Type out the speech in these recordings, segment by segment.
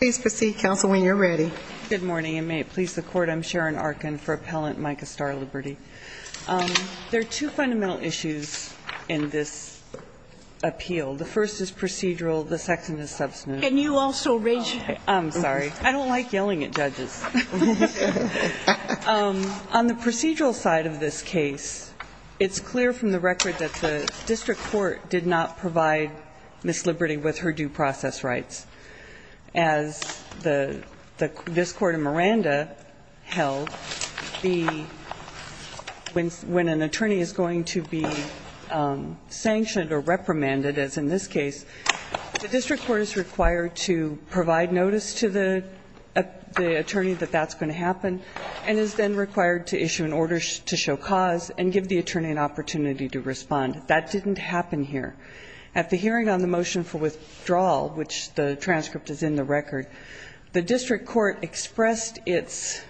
Please proceed, Counsel, when you're ready. Good morning, and may it please the Court, I'm Sharon Arkin for Appellant Micah Starr-Liberty. There are two fundamental issues in this appeal. The first is procedural, the second is substantive. Can you also raise your hand? I don't like yelling at judges. On the procedural side of this case, it's clear from the record that the district court did not provide Ms. Liberty with her due process rights. As this Court in Miranda held, when an attorney is going to be sanctioned or reprimanded, as in this case, the district court is required to provide notice to the attorney that that's going to happen, and is then required to issue an order to show cause and give the attorney an opportunity to respond. That didn't happen here. At the hearing on the motion for withdrawal, which the transcript is in the record, the district court expressed its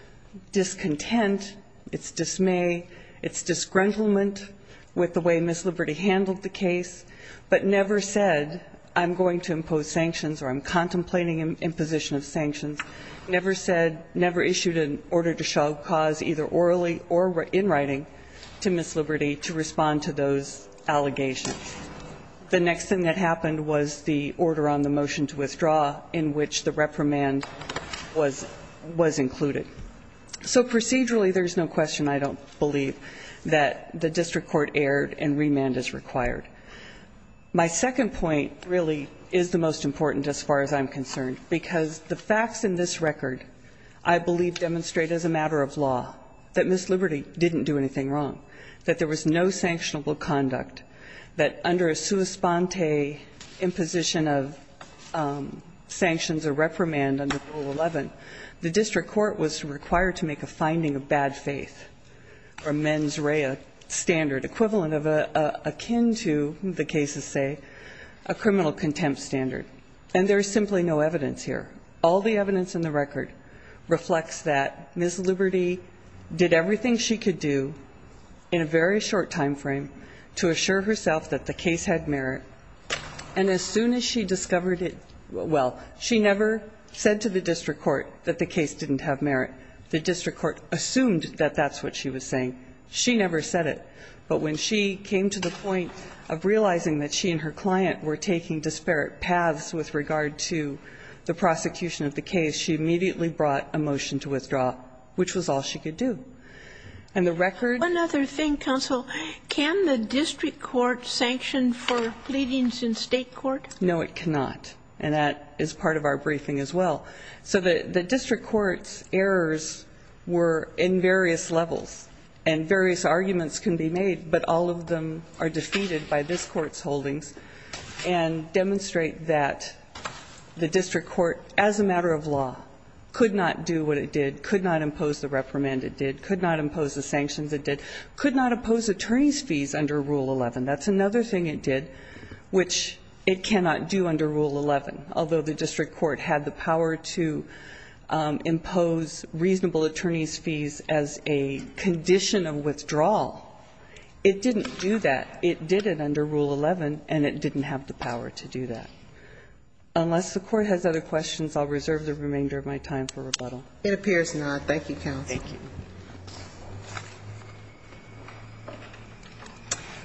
discontent, its dismay, its disgruntlement with the way Ms. Liberty handled the case, but never said, I'm going to impose sanctions or I'm contemplating imposition of sanctions. Never said, never issued an order to show cause, either orally or in writing, to Ms. Liberty to respond to those allegations. The next thing that happened was the order on the motion to withdraw, in which the reprimand was included. So procedurally, there's no question, I don't believe, that the district court erred and remand is required. My second point really is the most important as far as I'm concerned, because the facts in this record, I believe, demonstrate as a matter of law that Ms. Liberty didn't do anything wrong, that there was no sanctionable conduct, that under a sua sponte imposition of sanctions or reprimand under Rule 11, the district court was required to make a finding of bad faith, or mens rea standard, equivalent of, akin to the cases say, a criminal contempt standard. And there's simply no evidence here. All the evidence in the record reflects that Ms. Liberty did everything she could do in a very short time frame to assure herself that the case had merit, and as soon as she discovered it, well, she never said to the district court that the case didn't have merit. The district court assumed that that's what she was saying. She never said it. But when she came to the point of realizing that she and her client were taking disparate paths with regard to the prosecution of the case, she immediately brought a motion to withdraw, which was all she could do. And the record... One other thing, counsel. Can the district court sanction for pleadings in state court? No, it cannot. And that is part of our briefing as well. So the district court's errors were in various levels, and various arguments can be made, but all of them are defeated by this court's holdings, and demonstrate that the district court, as a matter of law, could not do what it did, could not impose the reprimand it did, could not impose the sanctions it did, could not oppose attorney's fees under Rule 11. That's another thing it did, which it cannot do under Rule 11, although the district court had the power to impose reasonable attorney's fees as a condition of withdrawal. It didn't do that. It did it under Rule 11, and it didn't have the power to do that. Unless the court has other questions, I'll reserve the remainder of my time for rebuttal. It appears not. Thank you, counsel. Thank you.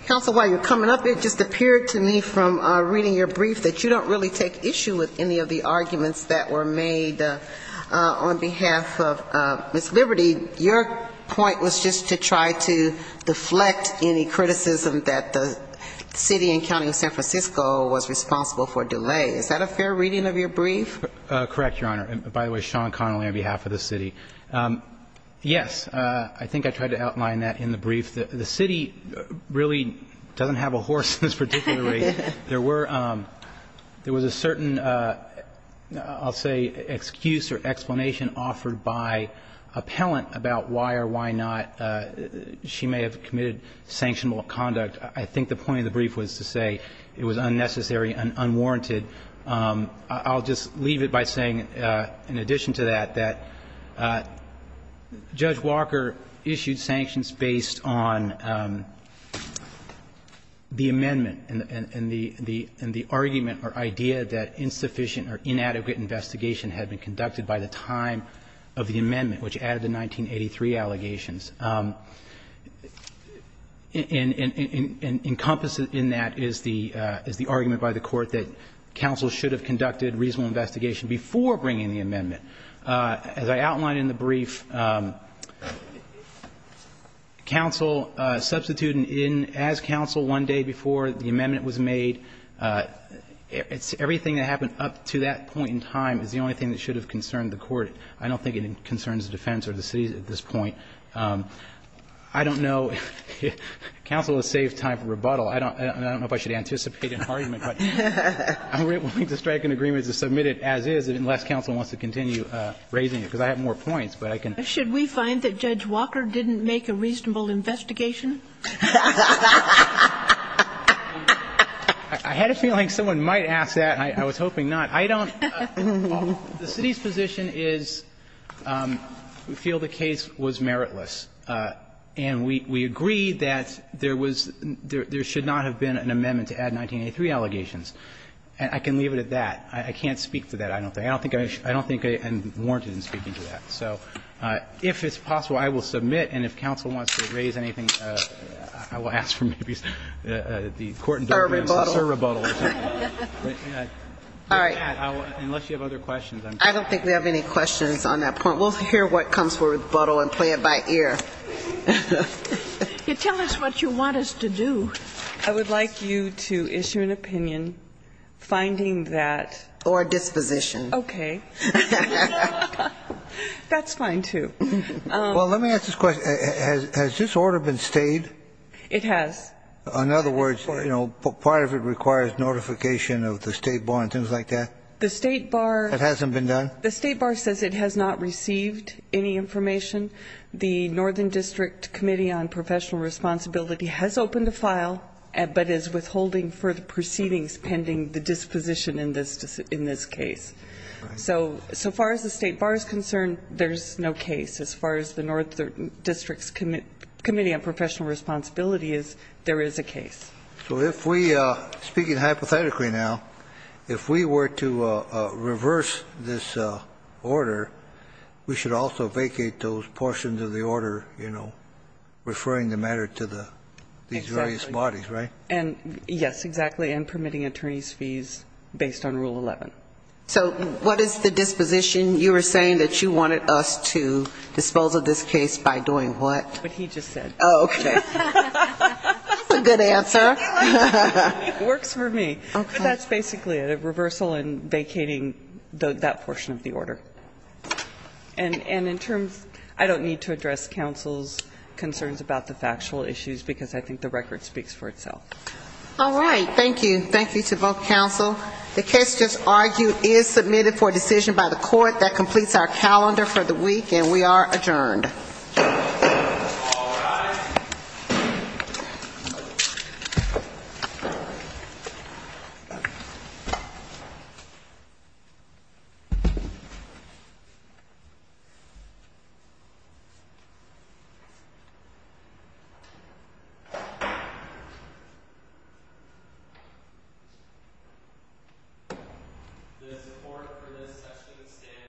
Counsel, while you're coming up, it just appeared to me from reading your brief that you don't really take issue with any of the arguments that were made on behalf of Ms. Liberty. Your point was just to try to deflect any criticism that the city and county of San Francisco was responsible for delay. Is that a fair reading of your brief? Correct, Your Honor. By the way, Sean Connolly on behalf of the city. Yes, I think I tried to outline that in the brief. The city really doesn't have a horse in this particular case. There was a certain, I'll say, excuse or explanation offered by appellant about why or why not she may have committed sanctionable conduct. I think the point of the brief was to say it was unnecessary and unwarranted. I'll just leave it by saying, in addition to that, that Judge Walker issued sanctions based on the amendment and the argument or idea that insufficient or inadequate investigation had been conducted by the time of the amendment, which added the 1983 allegations. And encompassed in that is the argument by the court before bringing the amendment. As I outlined in the brief, counsel substituting in as counsel one day before the amendment was made, everything that happened up to that point in time is the only thing that should have concerned the court. I don't think it concerns the defense or the city at this point. I don't know if counsel has saved time for rebuttal. I don't know if I should anticipate an argument, but I'm willing to strike an agreement to submit it as is unless counsel wants to continue raising it. Because I have more points, but I can... Should we find that Judge Walker didn't make a reasonable investigation? I had a feeling someone might ask that. I was hoping not. I don't... The city's position is we feel the case was meritless. And we agree that there should not have been an amendment to add 1983 allegations. I can leave it at that. I can't speak for that. I don't think I'm warranted in speaking to that. So if it's possible, I will submit. And if counsel wants to raise anything, I will ask for maybe the court... Or rebuttal. Or rebuttal. All right. Unless you have other questions. I don't think we have any questions on that point. We'll hear what comes for rebuttal and play it by ear. Tell us what you want us to do. I would like you to issue an opinion finding that... Okay. That's fine, too. Well, let me ask this question. Has this order been stayed? It has. In other words, part of it requires notification of the State Bar and things like that? The State Bar... It hasn't been done? The State Bar says it has not received any information. The Northern District Committee on Professional Responsibility has opened a file, but is withholding further proceedings pending the disposition in this case. So far as the State Bar is concerned, there's no case. As far as the Northern District Committee on Professional Responsibility is, there is a case. So if we, speaking hypothetically now, if we were to reverse this order, we should also vacate those portions of the order, you know, referring the matter to these various bodies, right? Exactly. And, yes, exactly, and permitting attorney's fees based on Rule 11. So what is the disposition? You were saying that you wanted us to disposal this case by doing what? What he just said. Oh, okay. That's a good answer. It works for me. Okay. But that's basically a reversal and vacating that portion of the order. And in terms, I don't need to address counsel's concerns about the factual issues, because I think the record speaks for itself. All right. Thank you. Thank you to both counsel. The case just argued is submitted for decision by the court. That completes our calendar for the week, and we are adjourned. All rise. The support for this session stands.